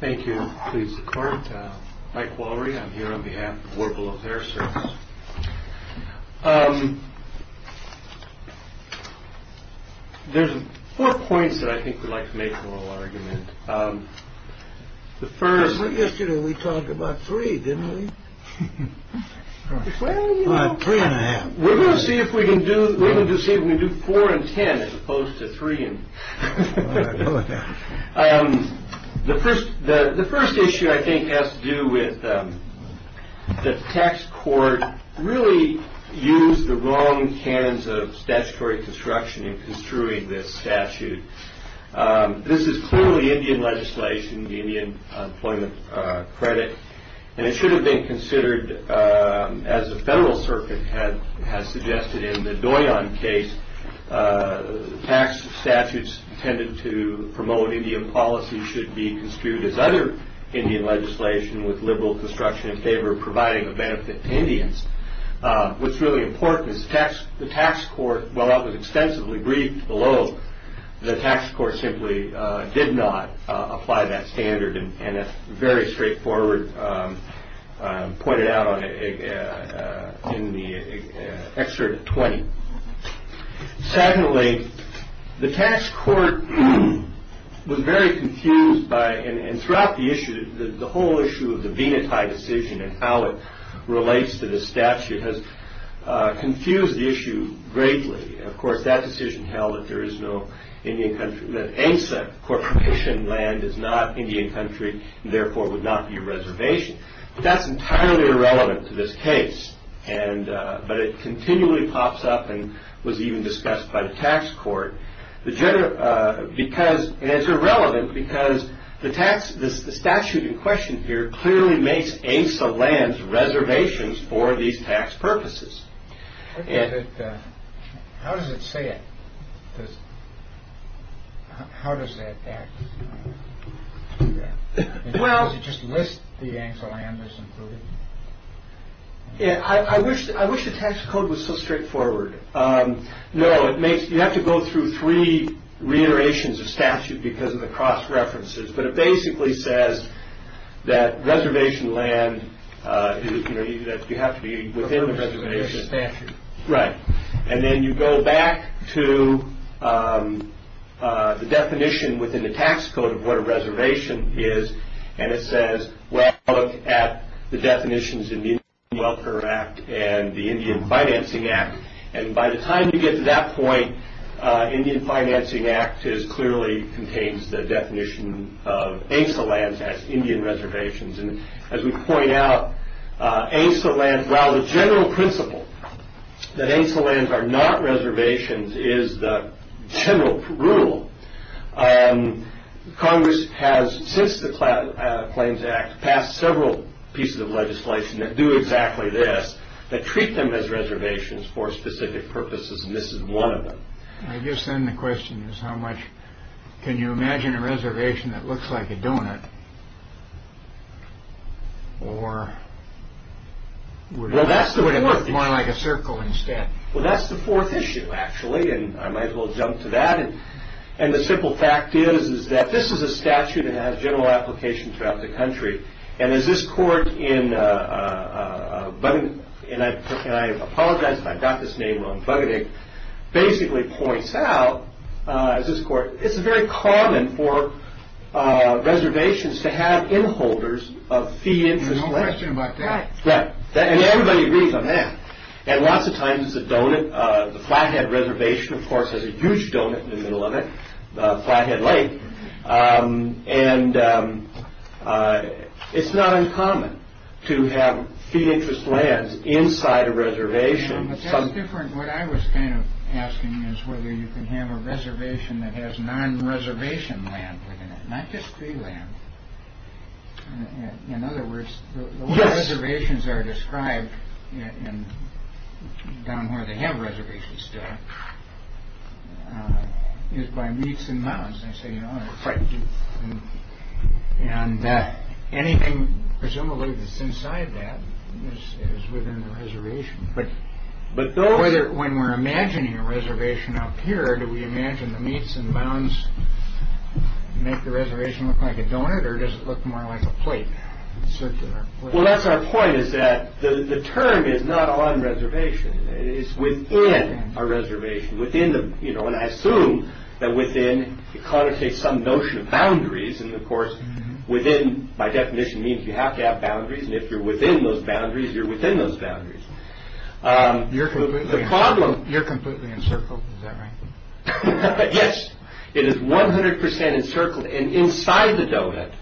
Thank you. Please. Mike Worry. I'm here on behalf of their service. There's four points that I think we'd like to make a little argument. The first yesterday we talked about three, didn't we? Three and a half. We're going to see if we can do we can do see if we do four and ten as opposed to three. And the first the first issue I think has to do with the tax court really use the wrong hands of statutory construction in construing this statute. This is clearly Indian legislation, the Indian employment credit. And it should have been considered as the Federal Circuit had has suggested in the Doyon case. Tax statutes tended to promote Indian policy should be construed as other Indian legislation with liberal construction in favor of providing a benefit to Indians. What's really important is the tax the tax court. Well, that was extensively briefed below the tax court simply did not apply that standard. And it's very straightforward. Pointed out in the excerpt 20. Secondly, the tax court was very confused by and throughout the issue, the whole issue of the Veneti decision and how it relates to the statute has confused the issue greatly. Of course, that decision held that there is no Indian country that ASEC Corporation land is not Indian country. Therefore, it would not be a reservation. That's entirely irrelevant to this case. And but it continually pops up and was even discussed by the tax court. The general because it's irrelevant because the tax, this statute in question here clearly makes a sub lands reservations for these tax purposes. And how does it say it? How does that act? Well, just list the answer. And I wish I wish the tax code was so straightforward. No, it makes you have to go through three reiterations of statute because of the cross references. But it basically says that reservation land that you have to be within the reservation statute. Right. And then you go back to the definition within the tax code of what a reservation is. And it says, well, look at the definitions in the Indian Welfare Act and the Indian Financing Act. And by the time you get to that point, Indian Financing Act is clearly contains the definition of AIMSA lands as Indian reservations. And as we point out, AIMSA lands, while the general principle that AIMSA lands are not reservations is the general rule. Congress has since the Claims Act passed several pieces of legislation that do exactly this, that treat them as reservations for specific purposes. And this is one of them. I guess then the question is how much. Can you imagine a reservation that looks like a donut? Or would it look more like a circle instead? Well, that's the fourth issue, actually. And I might as well jump to that. And the simple fact is, is that this is a statute that has general application throughout the country. And as this court in, and I apologize if I've got this name wrong, Buggatick, basically points out, as this court, it's very common for reservations to have inholders of fee interest. No question about that. Yeah. And everybody agrees on that. And lots of times the donut, the Flathead Reservation, of course, has a huge donut in the middle of it, the Flathead Lake. And it's not uncommon to have fee interest lands inside a reservation. It's different. What I was kind of asking is whether you can have a reservation that has non-reservation land in it. Not just free land. In other words, the reservations are described in down where they have reservations. That is by meets and nods. I say, you know, and anything presumably that's inside that is within the reservation. But but whether when we're imagining a reservation up here, do we imagine the meets and bounds make the reservation look like a donut or does it look more like a plate? Circular. Well, that's our point, is that the term is not on reservation. It is within our reservation, within the you know, and I assume that within it connotates some notion of boundaries. And of course, within my definition means you have to have boundaries. And if you're within those boundaries, you're within those boundaries. You're the problem. You're completely encircled. Is that right? Yes, it is 100 percent encircled. And inside the donut,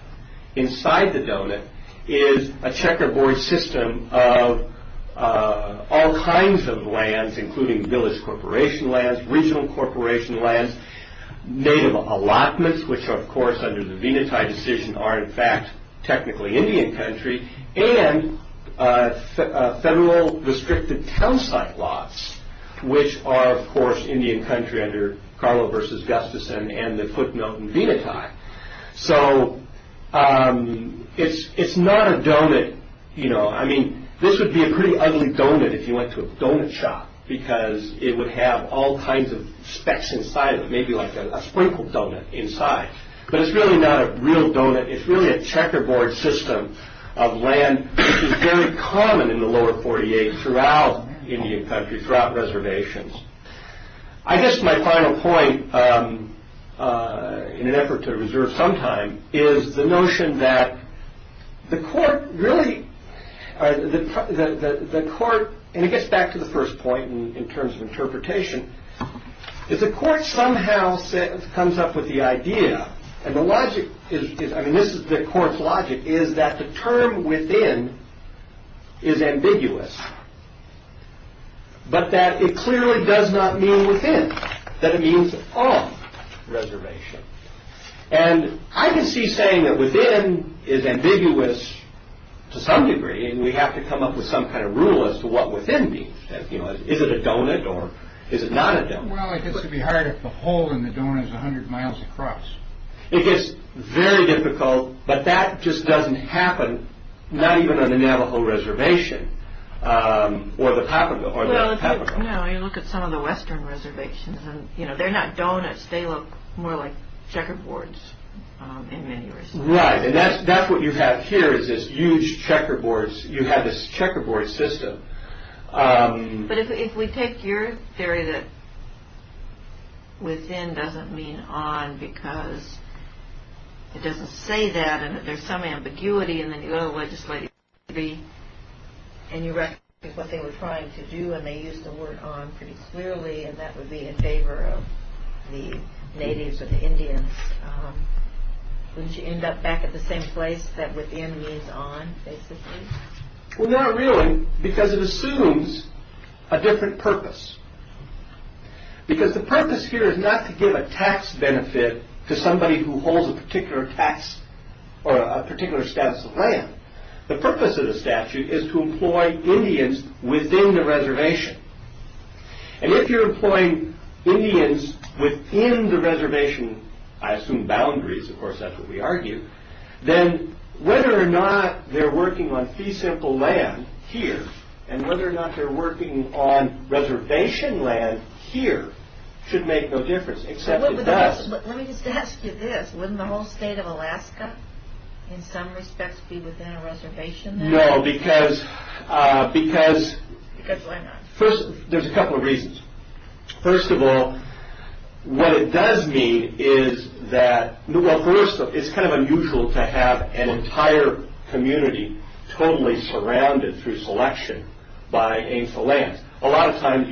inside the donut is a checkerboard system of all kinds of lands, including village corporation lands, regional corporation lands, native allotments, which are, of course, under the Veneti decision are in fact technically Indian country and federal restricted town site lots, which are, of course, Indian country under Carlo versus Gustafson and the footnote in Veneti. So it's it's not a donut. You know, I mean, this would be a pretty ugly donut if you went to a donut shop, because it would have all kinds of specks inside of maybe like a sprinkled donut inside. But it's really not a real donut. It's really a checkerboard system of land. It's very common in the lower 48 throughout Indian country, throughout reservations. I guess my final point in an effort to reserve some time is the notion that the court really the court. And it gets back to the first point in terms of interpretation is the court somehow comes up with the idea. And the logic is, I mean, this is the court's logic, is that the term within is ambiguous. But that it clearly does not mean within that it means off reservation. And I can see saying that within is ambiguous to some degree. And we have to come up with some kind of rule as to what within means. Is it a donut or is it not a donut? Well, I guess it'd be hard if the hole in the donut is a hundred miles across. It is very difficult. But that just doesn't happen. Not even on the Navajo reservation or the top of the or the top. Now you look at some of the Western reservations and you know, they're not donuts. They look more like checkerboards in many ways. Right. And that's that's what you have here is this huge checkerboards. You have this checkerboard system. But if we take your theory that. Within doesn't mean on because it doesn't say that. And there's some ambiguity in the legislation. And you recognize what they were trying to do, and they used the word on pretty clearly. And that would be in favor of the natives or the Indians. Would you end up back at the same place that within means on basically? Well, not really, because it assumes a different purpose. Because the purpose here is not to give a tax benefit to somebody who holds a particular tax or a particular status of land. The purpose of the statute is to employ Indians within the reservation. And if you're employing Indians within the reservation, I assume boundaries, of course, that's what we argue. Then whether or not they're working on fee simple land here and whether or not they're working on reservation land here should make no difference. Except that. Let me just ask you this. Wouldn't the whole state of Alaska in some respects be within a reservation? No, because because first, there's a couple of reasons. First of all, what it does mean is that, well, first, it's kind of unusual to have an entire community totally surrounded through selection by aims to land. A lot of times,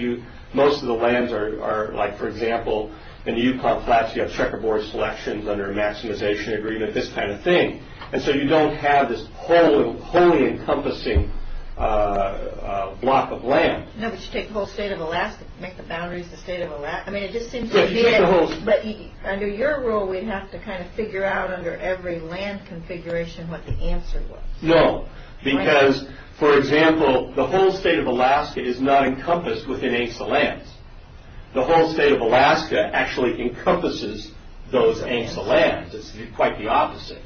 most of the lands are like, for example, in the Yukon Flats, you have checkerboard selections under a maximization agreement, this kind of thing. And so you don't have this wholly encompassing block of land. No, but you take the whole state of Alaska, make the boundaries the state of Alaska. I mean, it just seems to be it. But under your rule, we'd have to kind of figure out under every land configuration what the answer was. No, because, for example, the whole state of Alaska is not encompassed within aims to lands. The whole state of Alaska actually encompasses those aims to lands. It's quite the opposite.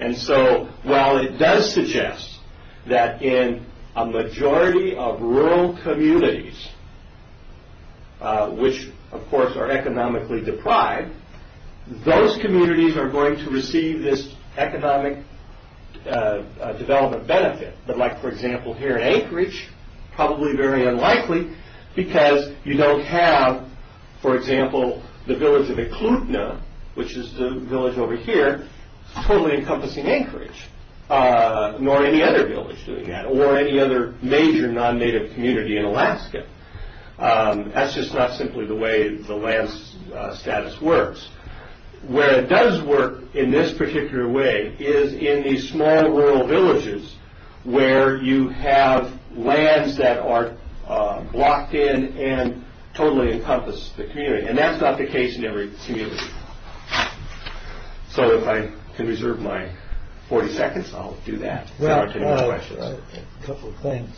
And so while it does suggest that in a majority of rural communities, which, of course, are economically deprived, those communities are going to receive this economic development benefit. But like, for example, here in Anchorage, probably very unlikely because you don't have, for example, the village of Eklutna, which is the village over here, totally encompassing Anchorage, nor any other village doing that or any other major non-native community in Alaska. That's just not simply the way the land status works. Where it does work in this particular way is in these small rural villages where you have lands that are blocked in and totally encompass the community. And that's not the case in every community. So if I can reserve my 40 seconds, I'll do that. Well, a couple of things.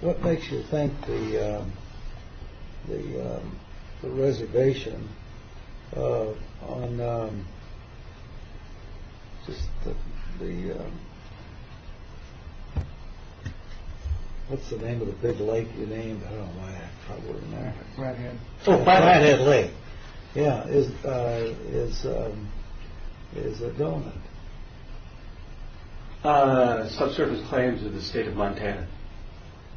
What makes you think the the reservation on the. Yeah. What's the name of the big lake? You named it. Oh, my. Right. So by that lake. Yeah. Is is is a donut. Subsurface claims of the state of Montana.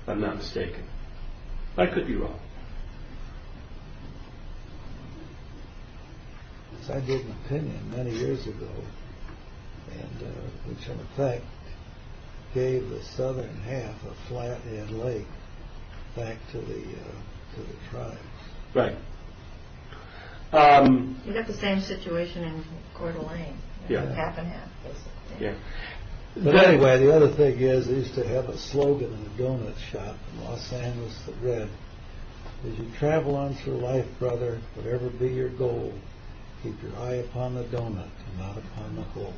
I'm not mistaken. I could be wrong. I did an opinion many years ago and which, in effect, gave the southern half of Flathead Lake back to the tribe. Right. You got the same situation in Coeur d'Alene. Yeah. Yeah. But anyway, the other thing is, is to have a slogan in the donut shop in Los Angeles that read as you travel on through life, brother, whatever be your goal, keep your eye upon the donut and not upon the hole.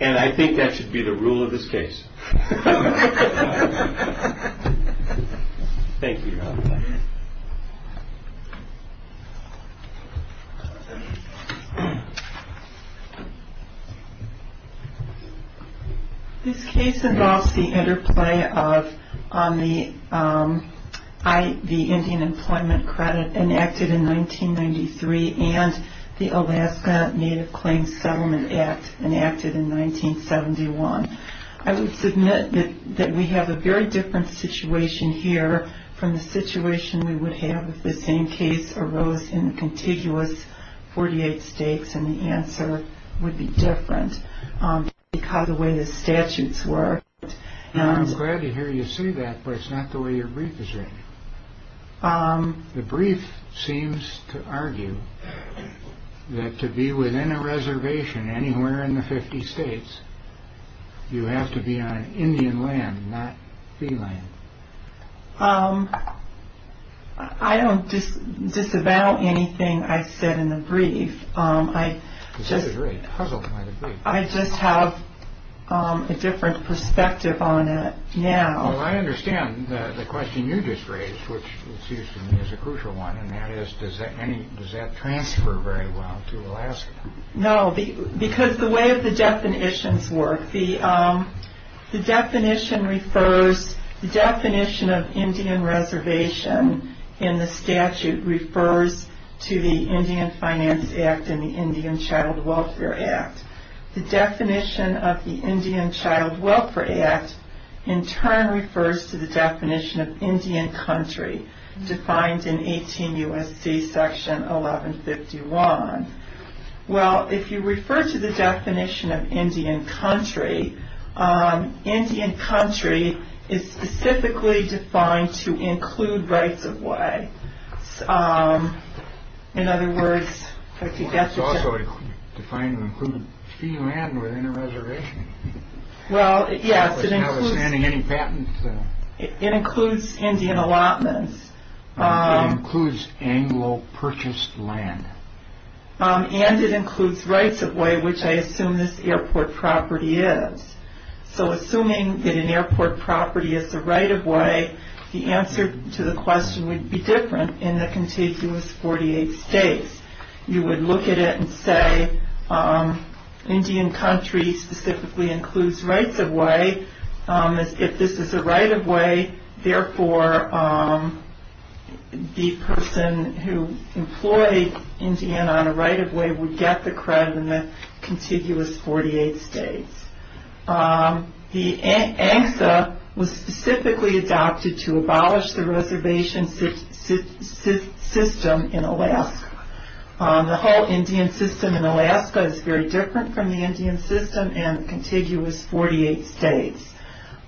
And I think that should be the rule of this case. Thank you. This case involves the interplay of on the eye, the Indian Employment Credit enacted in 1993 and the Alaska Native Claims Settlement Act enacted in 1971. I would submit that we have a very different situation here from the situation we would have if the same case arose in the contiguous 48 states. And the answer would be different because the way the statutes were. And I'm glad to hear you say that, but it's not the way your brief is written. The brief seems to argue that to be within a reservation anywhere in the 50 states, you have to be on Indian land, not the land. I don't disavow anything I said in the brief. I just I just have a different perspective on it. Now, I understand the question you just raised, which is a crucial one. And that is, does that any does that transfer very well to Alaska? No, because the way the definitions work, the definition refers, the definition of Indian reservation in the statute refers to the Indian Finance Act and the Indian Child Welfare Act. The definition of the Indian Child Welfare Act in turn refers to the definition of Indian country defined in 18 U.S.C. Section 1151. Well, if you refer to the definition of Indian country, Indian country is specifically defined to include rights of way. In other words, it's also defined to include free land within a reservation. Well, yes, it includes any patent. It includes Indian allotments. Includes Anglo purchased land and it includes rights of way, which I assume this airport property is. So assuming that an airport property is the right of way, the answer to the question would be different in the contiguous 48 states. You would look at it and say Indian country specifically includes rights of way. If this is a right of way, therefore, the person who employed Indian on a right of way would get the credit in the contiguous 48 states. The ANCSA was specifically adopted to abolish the reservation system in Alaska. The whole Indian system in Alaska is very different from the Indian system and contiguous 48 states.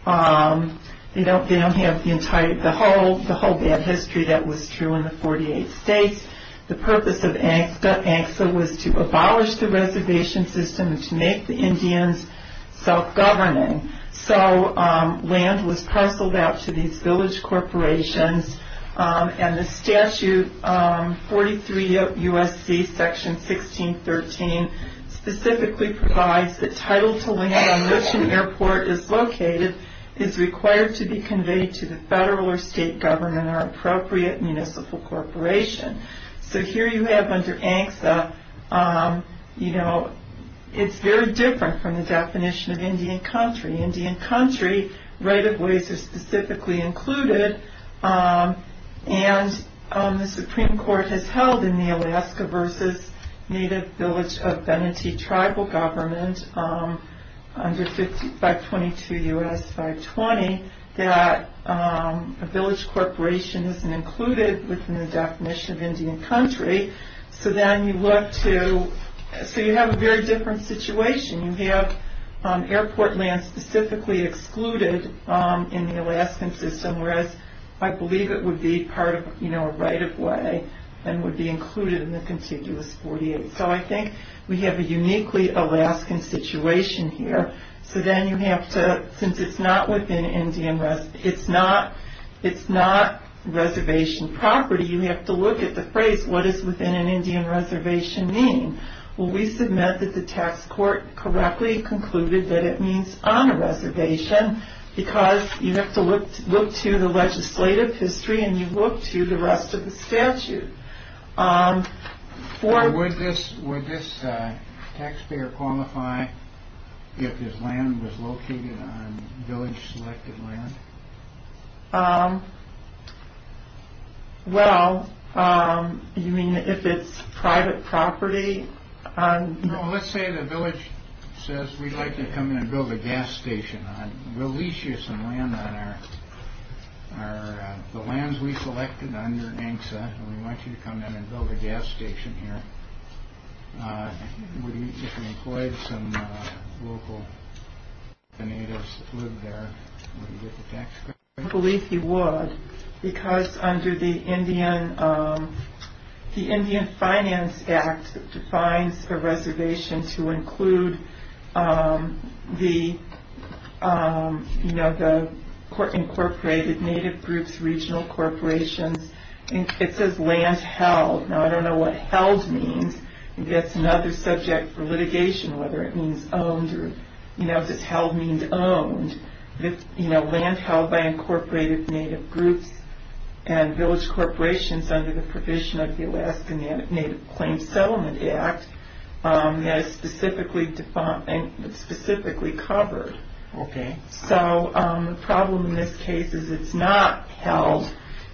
They don't have the entire, the whole, the whole bad history that was true in the 48 states. The purpose of ANCSA was to abolish the reservation system to make the Indians self-governing. So land was parceled out to these village corporations and the statute 43 U.S.C. section 1613 specifically provides the title to land on which an airport is located is required to be conveyed to the federal or state government or appropriate municipal corporation. So here you have under ANCSA, you know, it's very different from the definition of Indian country. Indian country right of ways are specifically included. And the Supreme Court has held in the Alaska versus native village of Benatee tribal government under 522 U.S. 520 that a village corporation isn't included within the definition of Indian country. So then you look to, so you have a very different situation. You have airport land specifically excluded in the Alaskan system, whereas I believe it would be part of, you know, a right of way and would be included in the contiguous 48. So I think we have a uniquely Alaskan situation here. So then you have to, since it's not within Indian, it's not, it's not reservation property. You have to look at the phrase, what is within an Indian reservation mean? Well, we submit that the tax court correctly concluded that it means on a reservation because you have to look, look to the legislative history and you look to the rest of the statute. For this, would this taxpayer qualify if his land was located on village selected land? Well, you mean if it's private property? Let's say the village says we'd like to come in and build a gas station on, we'll lease you some land on our, the lands we selected on your ANCSA, and we want you to come in and build a gas station here. Would he, if he employed some local natives that lived there, would he get the tax credit? I believe he would, because under the Indian, the Indian Finance Act defines a reservation to include the, you know, the incorporated native groups, regional corporations, and it says land held. Now, I don't know what held means, that's another subject for litigation, whether it means owned or, you know, does held mean owned? You know, land held by incorporated native groups and village corporations under the provision of the Alaska Native Claims Settlement Act, that is specifically defined, specifically covered. Okay. So, the problem in this case is it's not held,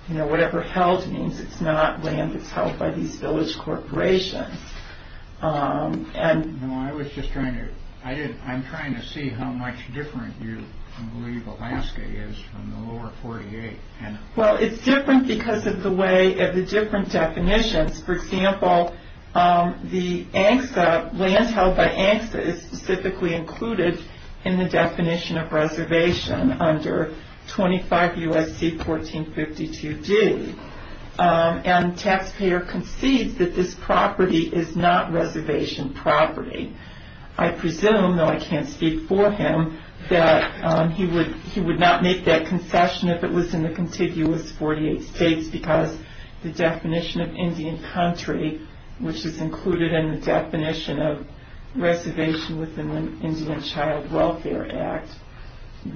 you know, whatever held means, it's not land that's held by these village corporations. I was just trying to, I'm trying to see how much different you believe Alaska is from the lower 48. Well, it's different because of the way, of the different definitions. For example, the ANCSA, lands held by ANCSA is specifically included in the definition of reservation under 25 U.S.C. 1452d, and taxpayer concedes that this property is not reservation property. I presume, though I can't speak for him, that he would not make that concession if it was in the contiguous 48 states because the definition of Indian country, which is included in the definition of reservation within the Indian Child Welfare Act,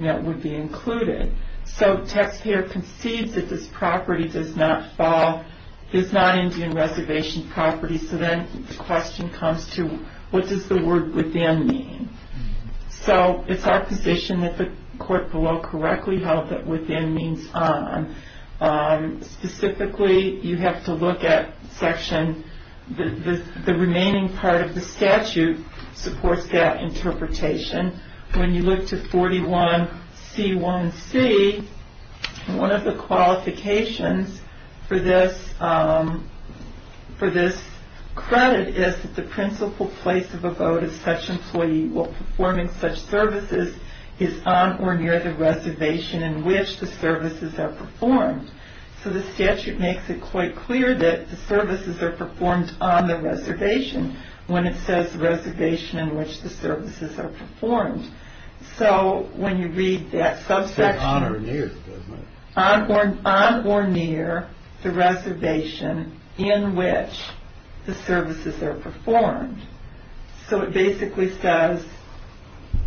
that would be included. So, taxpayer concedes that this property does not fall, is not Indian reservation property, so then the question comes to what does the word within mean? So, it's our position that the court below correctly held that within means on. Specifically, you have to look at section, the remaining part of the statute supports that interpretation. When you look to 41C1C, one of the qualifications for this, for this credit is that the principal place of a vote of such employee while performing such services is on or near the reservation in which the services are performed. So, the statute makes it quite clear that the services are performed on the reservation when it says reservation in which the services are performed. So, when you read that subsection, on or near the reservation in which the services are performed. So, it basically says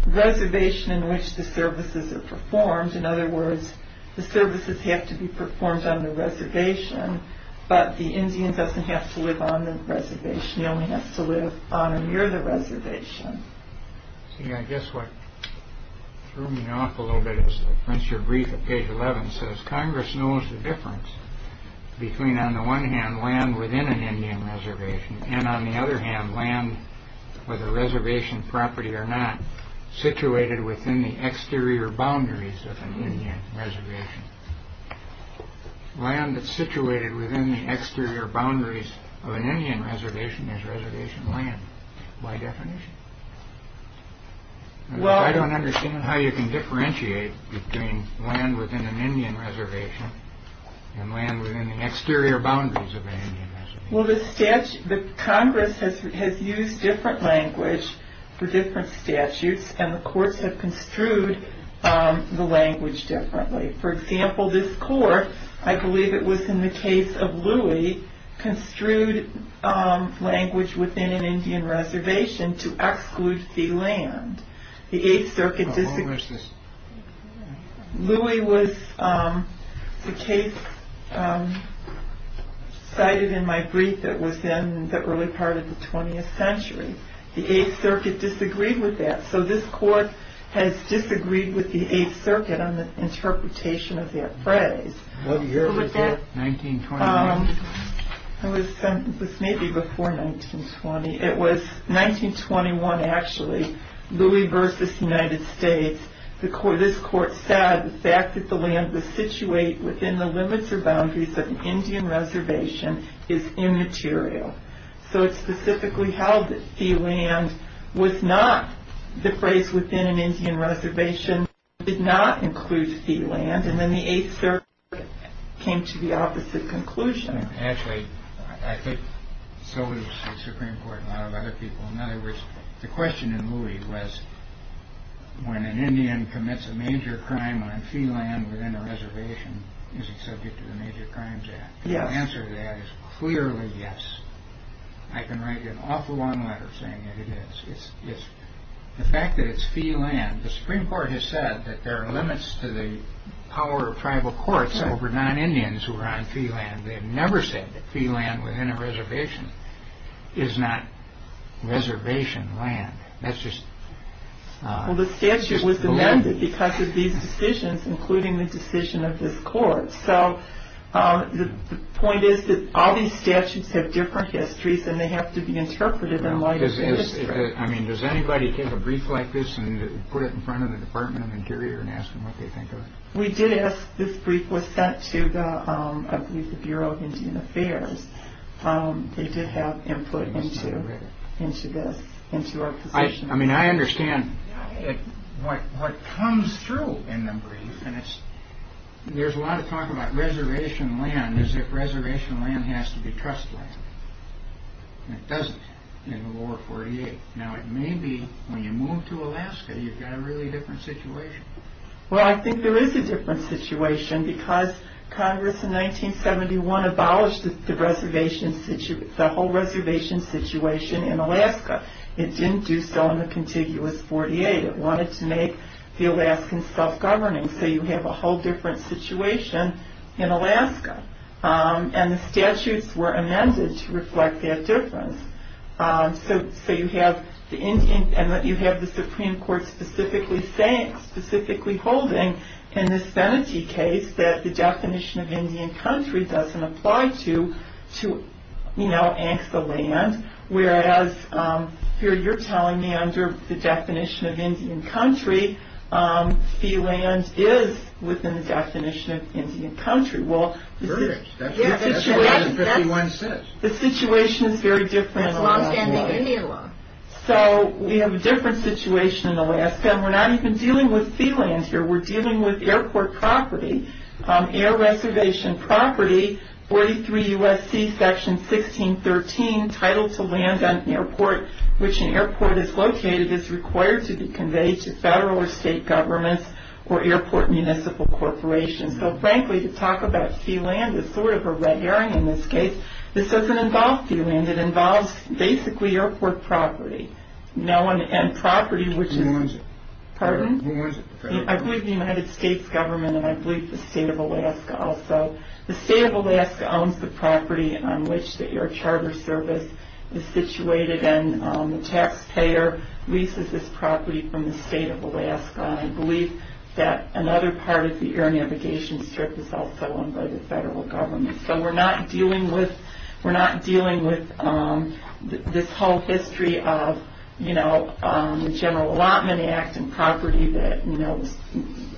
reservation in which the services are performed. In other words, the services have to be performed on the reservation, but the Indian doesn't have to live on the reservation. He only has to live on or near the reservation. See, I guess what threw me off a little bit is that your brief at page 11 says Congress knows the difference between, on the one hand, land within an Indian reservation and, on the other hand, land with a reservation property or not situated within the exterior boundaries of an Indian reservation. Land that's situated within the exterior boundaries of an Indian reservation is reservation land by definition. Well, I don't understand how you can differentiate between land within an Indian reservation and land within the exterior boundaries of an Indian reservation. Well, the statute, the Congress has used different language for different statutes and the courts have construed the language differently. For example, this court, I believe it was in the case of Louie, construed language within an Indian reservation to exclude the land. Louie was the case cited in my brief that was in the early part of the 20th century. The Eighth Circuit disagreed with that, so this court has disagreed with the Eighth Circuit on the interpretation of that phrase. What year was it? 1921? It was maybe before 1920. It was 1921, actually. Louie v. United States, this court said the fact that the land was situated within the limits or boundaries of an Indian reservation is immaterial. So it specifically held that fee land was not the phrase within an Indian reservation. It did not include fee land, and then the Eighth Circuit came to the opposite conclusion. Actually, I think so did the Supreme Court and a lot of other people. In other words, the question in Louie was, when an Indian commits a major crime on fee land within a reservation, is it subject to the Major Crimes Act? The answer to that is clearly yes. I can write an awful long letter saying that it is. The fact that it's fee land, the Supreme Court has said that there are limits to the power of tribal courts over non-Indians who are on fee land. They have never said that fee land within a reservation is not reservation land. Well, the statute was amended because of these decisions, including the decision of this court. So the point is that all these statutes have different histories and they have to be interpreted in light of history. I mean, does anybody take a brief like this and put it in front of the Department of Interior and ask them what they think of it? We did ask. This brief was sent to the Bureau of Indian Affairs. They did have input into this, into our position. I mean, I understand what comes through in the brief. There's a lot of talk about reservation land as if reservation land has to be trust land. It doesn't in the War of 48. Now, it may be when you move to Alaska, you've got a really different situation. Well, I think there is a different situation because Congress in 1971 abolished the whole reservation situation in Alaska. It didn't do so in the contiguous 48. It wanted to make the Alaskans self-governing. So you have a whole different situation in Alaska. And the statutes were amended to reflect that difference. So you have the Indian and you have the Supreme Court specifically saying, specifically holding, in this sanity case that the definition of Indian country doesn't apply to, you know, ANCA land. Whereas here you're telling me under the definition of Indian country, sea land is within the definition of Indian country. Well, the situation is very different in Alaska. So we have a different situation in Alaska. And we're not even dealing with sea land here. We're dealing with airport property, air reservation property, 43 U.S.C. Section 1613, Title to Land on Airport, which an airport is located is required to be conveyed to federal or state governments or airport municipal corporations. So, frankly, to talk about sea land is sort of a red herring in this case. This doesn't involve sea land. It involves, basically, airport property. And property, which is... Who owns it? Pardon? Who owns it? I believe the United States government and I believe the state of Alaska also. The state of Alaska owns the property on which the Air Charter Service is situated. And the taxpayer leases this property from the state of Alaska. I believe that another part of the air navigation strip is also owned by the federal government. So we're not dealing with this whole history of, you know, the General Allotment Act and property that, you know, was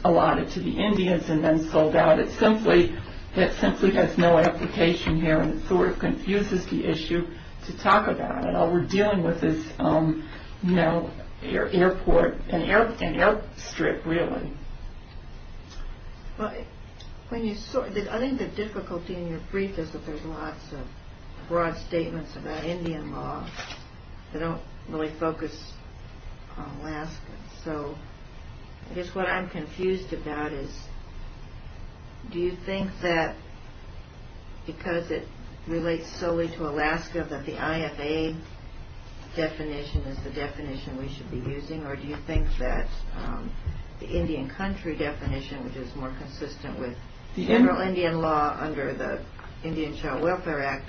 allotted to the Indians and then sold out. It simply has no application here. And it sort of confuses the issue to talk about it. All we're dealing with is, you know, airport and air strip, really. I think the difficulty in your brief is that there's lots of broad statements about Indian law that don't really focus on Alaska. So I guess what I'm confused about is, do you think that because it relates solely to Alaska that the IFA definition is the definition we should be using? Or do you think that the Indian country definition, which is more consistent with the general Indian law under the Indian Child Welfare Act,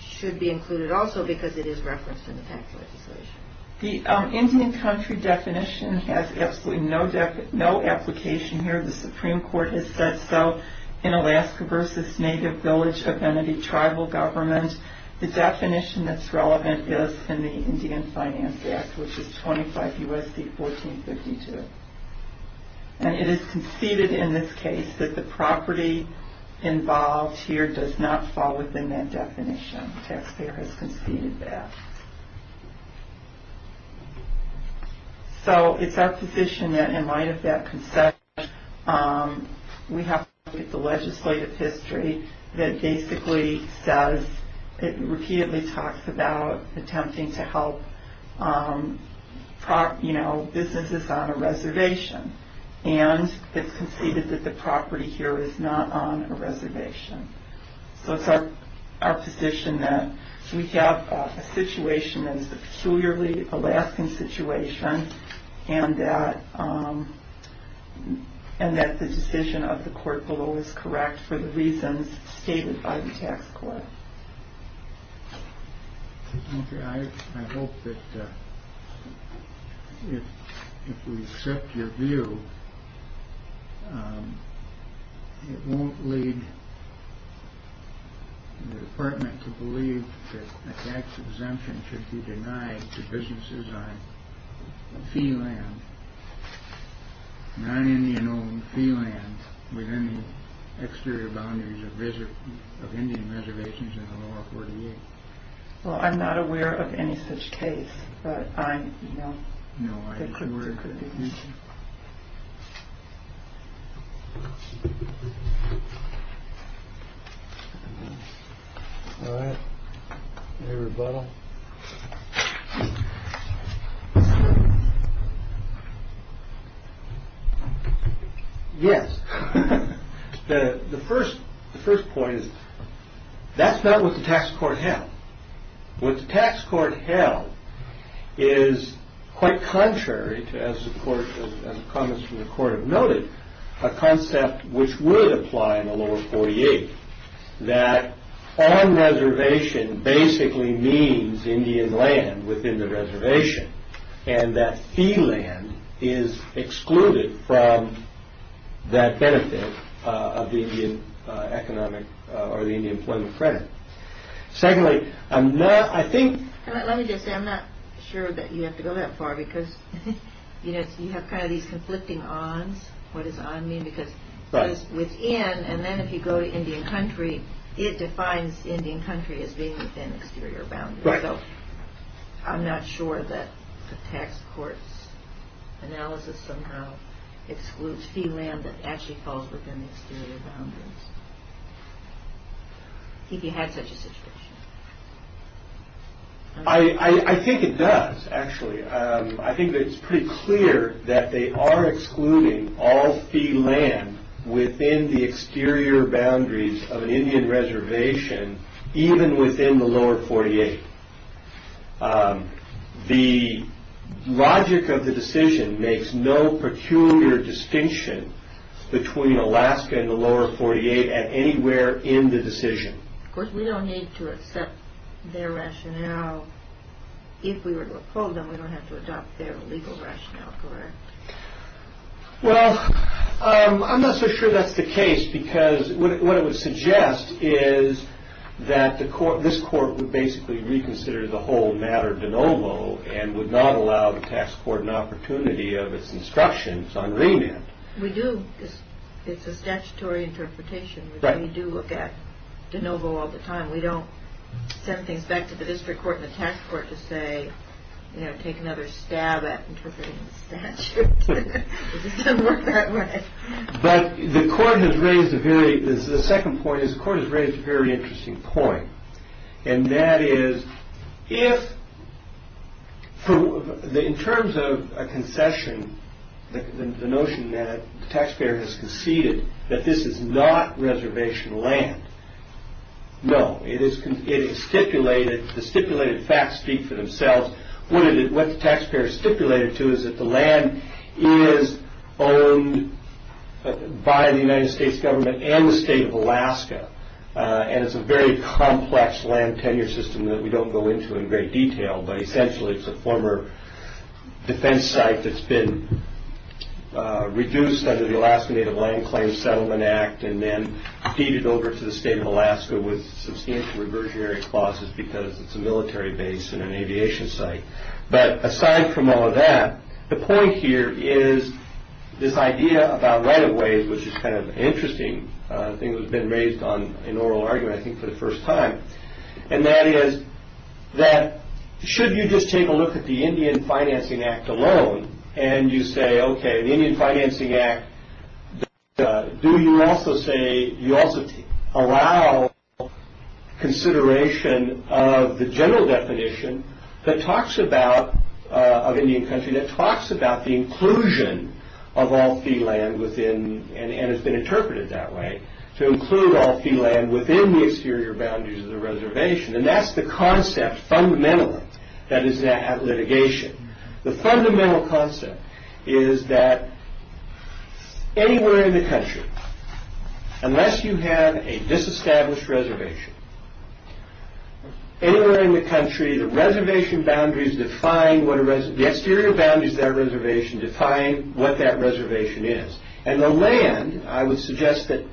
should be included also because it is referenced in the tax legislation? The Indian country definition has absolutely no application here. The Supreme Court has said so. In Alaska versus native village identity tribal government, the definition that's relevant is in the Indian Finance Act, which is 25 U.S.C. 1452. And it is conceded in this case that the property involved here does not fall within that definition. Taxpayer has conceded that. So it's our position that in light of that concession, we have to look at the legislative history that basically says, it repeatedly talks about attempting to help, you know, businesses on a reservation. And it's conceded that the property here is not on a reservation. So it's our position that we have a situation that is a peculiarly Alaskan situation and that the decision of the court below is correct for the reasons stated by the tax court. Okay, I hope that if we accept your view, it won't lead the department to believe that a tax exemption should be denied to businesses on fee land, not Indian-owned fee land within the exterior boundaries of Indian reservations in the lower 48. Well, I'm not aware of any such case, but I know. No, I'm sure it could be. All right. Any rebuttal? Yes. The first point is, that's not what the tax court held. What the tax court held is quite contrary to, as comments from the court have noted, a concept which would apply in the lower 48, that on reservation basically means Indian land within the reservation, and that fee land is excluded from that benefit of the Indian employment credit. Secondly, I'm not, I think... Let me just say, I'm not sure that you have to go that far, because you have kind of these conflicting odds, what does odd mean, because it's within, and then if you go to Indian country, Right. So, I'm not sure that the tax court's analysis somehow excludes fee land that actually falls within the exterior boundaries. If you had such a situation. I think it does, actually. I think that it's pretty clear that they are excluding all fee land within the exterior boundaries of an Indian reservation, even within the lower 48. The logic of the decision makes no peculiar distinction between Alaska and the lower 48 at anywhere in the decision. Of course, we don't need to accept their rationale. If we were to uphold them, we don't have to adopt their legal rationale for it. Well, I'm not so sure that's the case, because what it would suggest is that the court, this court would basically reconsider the whole matter de novo, and would not allow the tax court an opportunity of its instructions on remand. We do, it's a statutory interpretation. Right. We do look at de novo all the time. We don't send things back to the district court and the tax court to say, you know, take another stab at interpreting the statute. It doesn't work that way. But the court has raised a very, the second point is the court has raised a very interesting point. And that is, if, in terms of a concession, the notion that the taxpayer has conceded that this is not reservation land, no, it is stipulated, the stipulated facts speak for themselves. What the taxpayer is stipulated to is that the land is owned by the United States government and the state of Alaska. And it's a very complex land tenure system that we don't go into in great detail, but essentially it's a former defense site that's been reduced under the Alaska Native Land Claims Settlement Act and then deeded over to the state of Alaska with substantial reversionary clauses because it's a military base and an aviation site. But aside from all of that, the point here is this idea about right-of-ways, which is kind of an interesting thing that's been raised on an oral argument I think for the first time, and that is that should you just take a look at the Indian Financing Act alone and you say, okay, the Indian Financing Act, do you also say, do you also allow consideration of the general definition that talks about, of Indian country, that talks about the inclusion of all fee land within, and it's been interpreted that way, to include all fee land within the exterior boundaries of the reservation. And that's the concept fundamentally that is at litigation. The fundamental concept is that anywhere in the country, unless you have a disestablished reservation, anywhere in the country, the reservation boundaries define what a reservation, the exterior boundaries of that reservation define what that reservation is. And the land, I would suggest that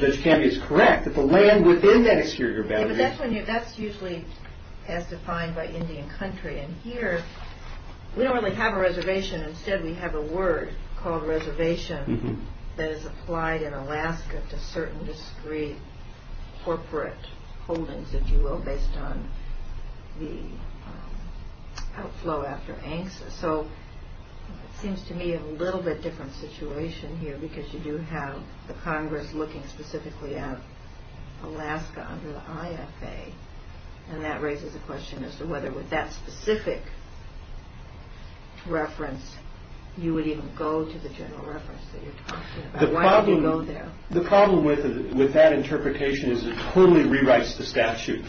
Judge Campion is correct, that the land within that exterior boundary. Yeah, but that's usually as defined by Indian country. And here, we don't really have a reservation. Instead, we have a word called reservation that is applied in Alaska to certain discrete corporate holdings, if you will, based on the outflow after ANCSA. So it seems to me a little bit different situation here because you do have the Congress looking specifically at Alaska under the IFA. And that raises a question as to whether with that specific reference, you would even go to the general reference that you're talking about. Why would you go there? The problem with that interpretation is it totally rewrites the statute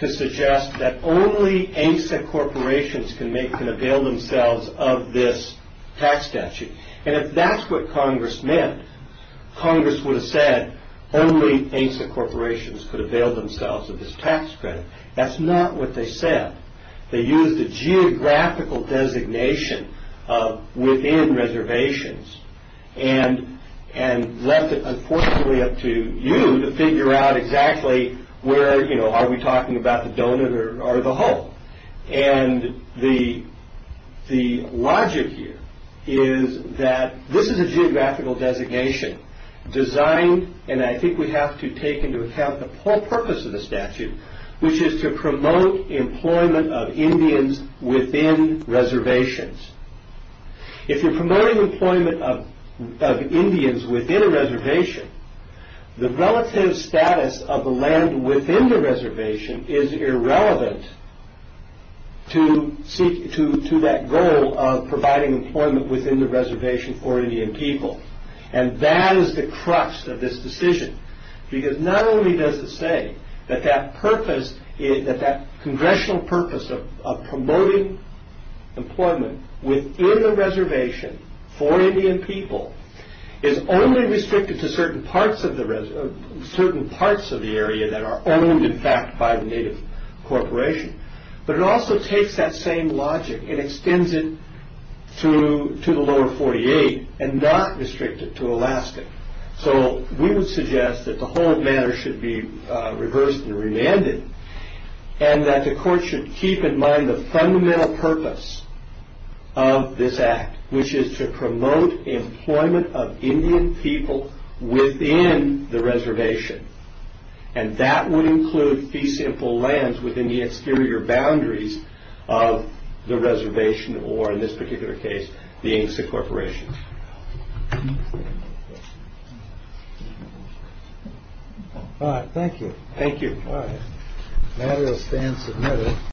to suggest that only ANCSA corporations can avail themselves of this tax statute. And if that's what Congress meant, Congress would have said only ANCSA corporations could avail themselves of this tax credit. That's not what they said. They used a geographical designation within reservations and left it, unfortunately, up to you to figure out exactly where, you know, are we talking about the donut or the hole? And the logic here is that this is a geographical designation designed, and I think we have to take into account the whole purpose of the statute, which is to promote employment of Indians within reservations. If you're promoting employment of Indians within a reservation, the relative status of the land within the reservation is irrelevant to that goal of providing employment within the reservation for Indian people. And that is the crux of this decision. Because not only does it say that that purpose, that that congressional purpose of promoting employment within the reservation for Indian people is only restricted to certain parts of the area that are owned, in fact, by the native corporation, but it also takes that same logic and extends it to the lower 48 and not restrict it to Alaska. So we would suggest that the whole matter should be reversed and remanded and that the court should keep in mind the fundamental purpose of this act, which is to promote employment of Indian people within the reservation. And that would include fee-simple lands within the exterior boundaries of the reservation or, in this particular case, the ANCSA corporation. All right, thank you. Thank you. All right. The matter is then submitted.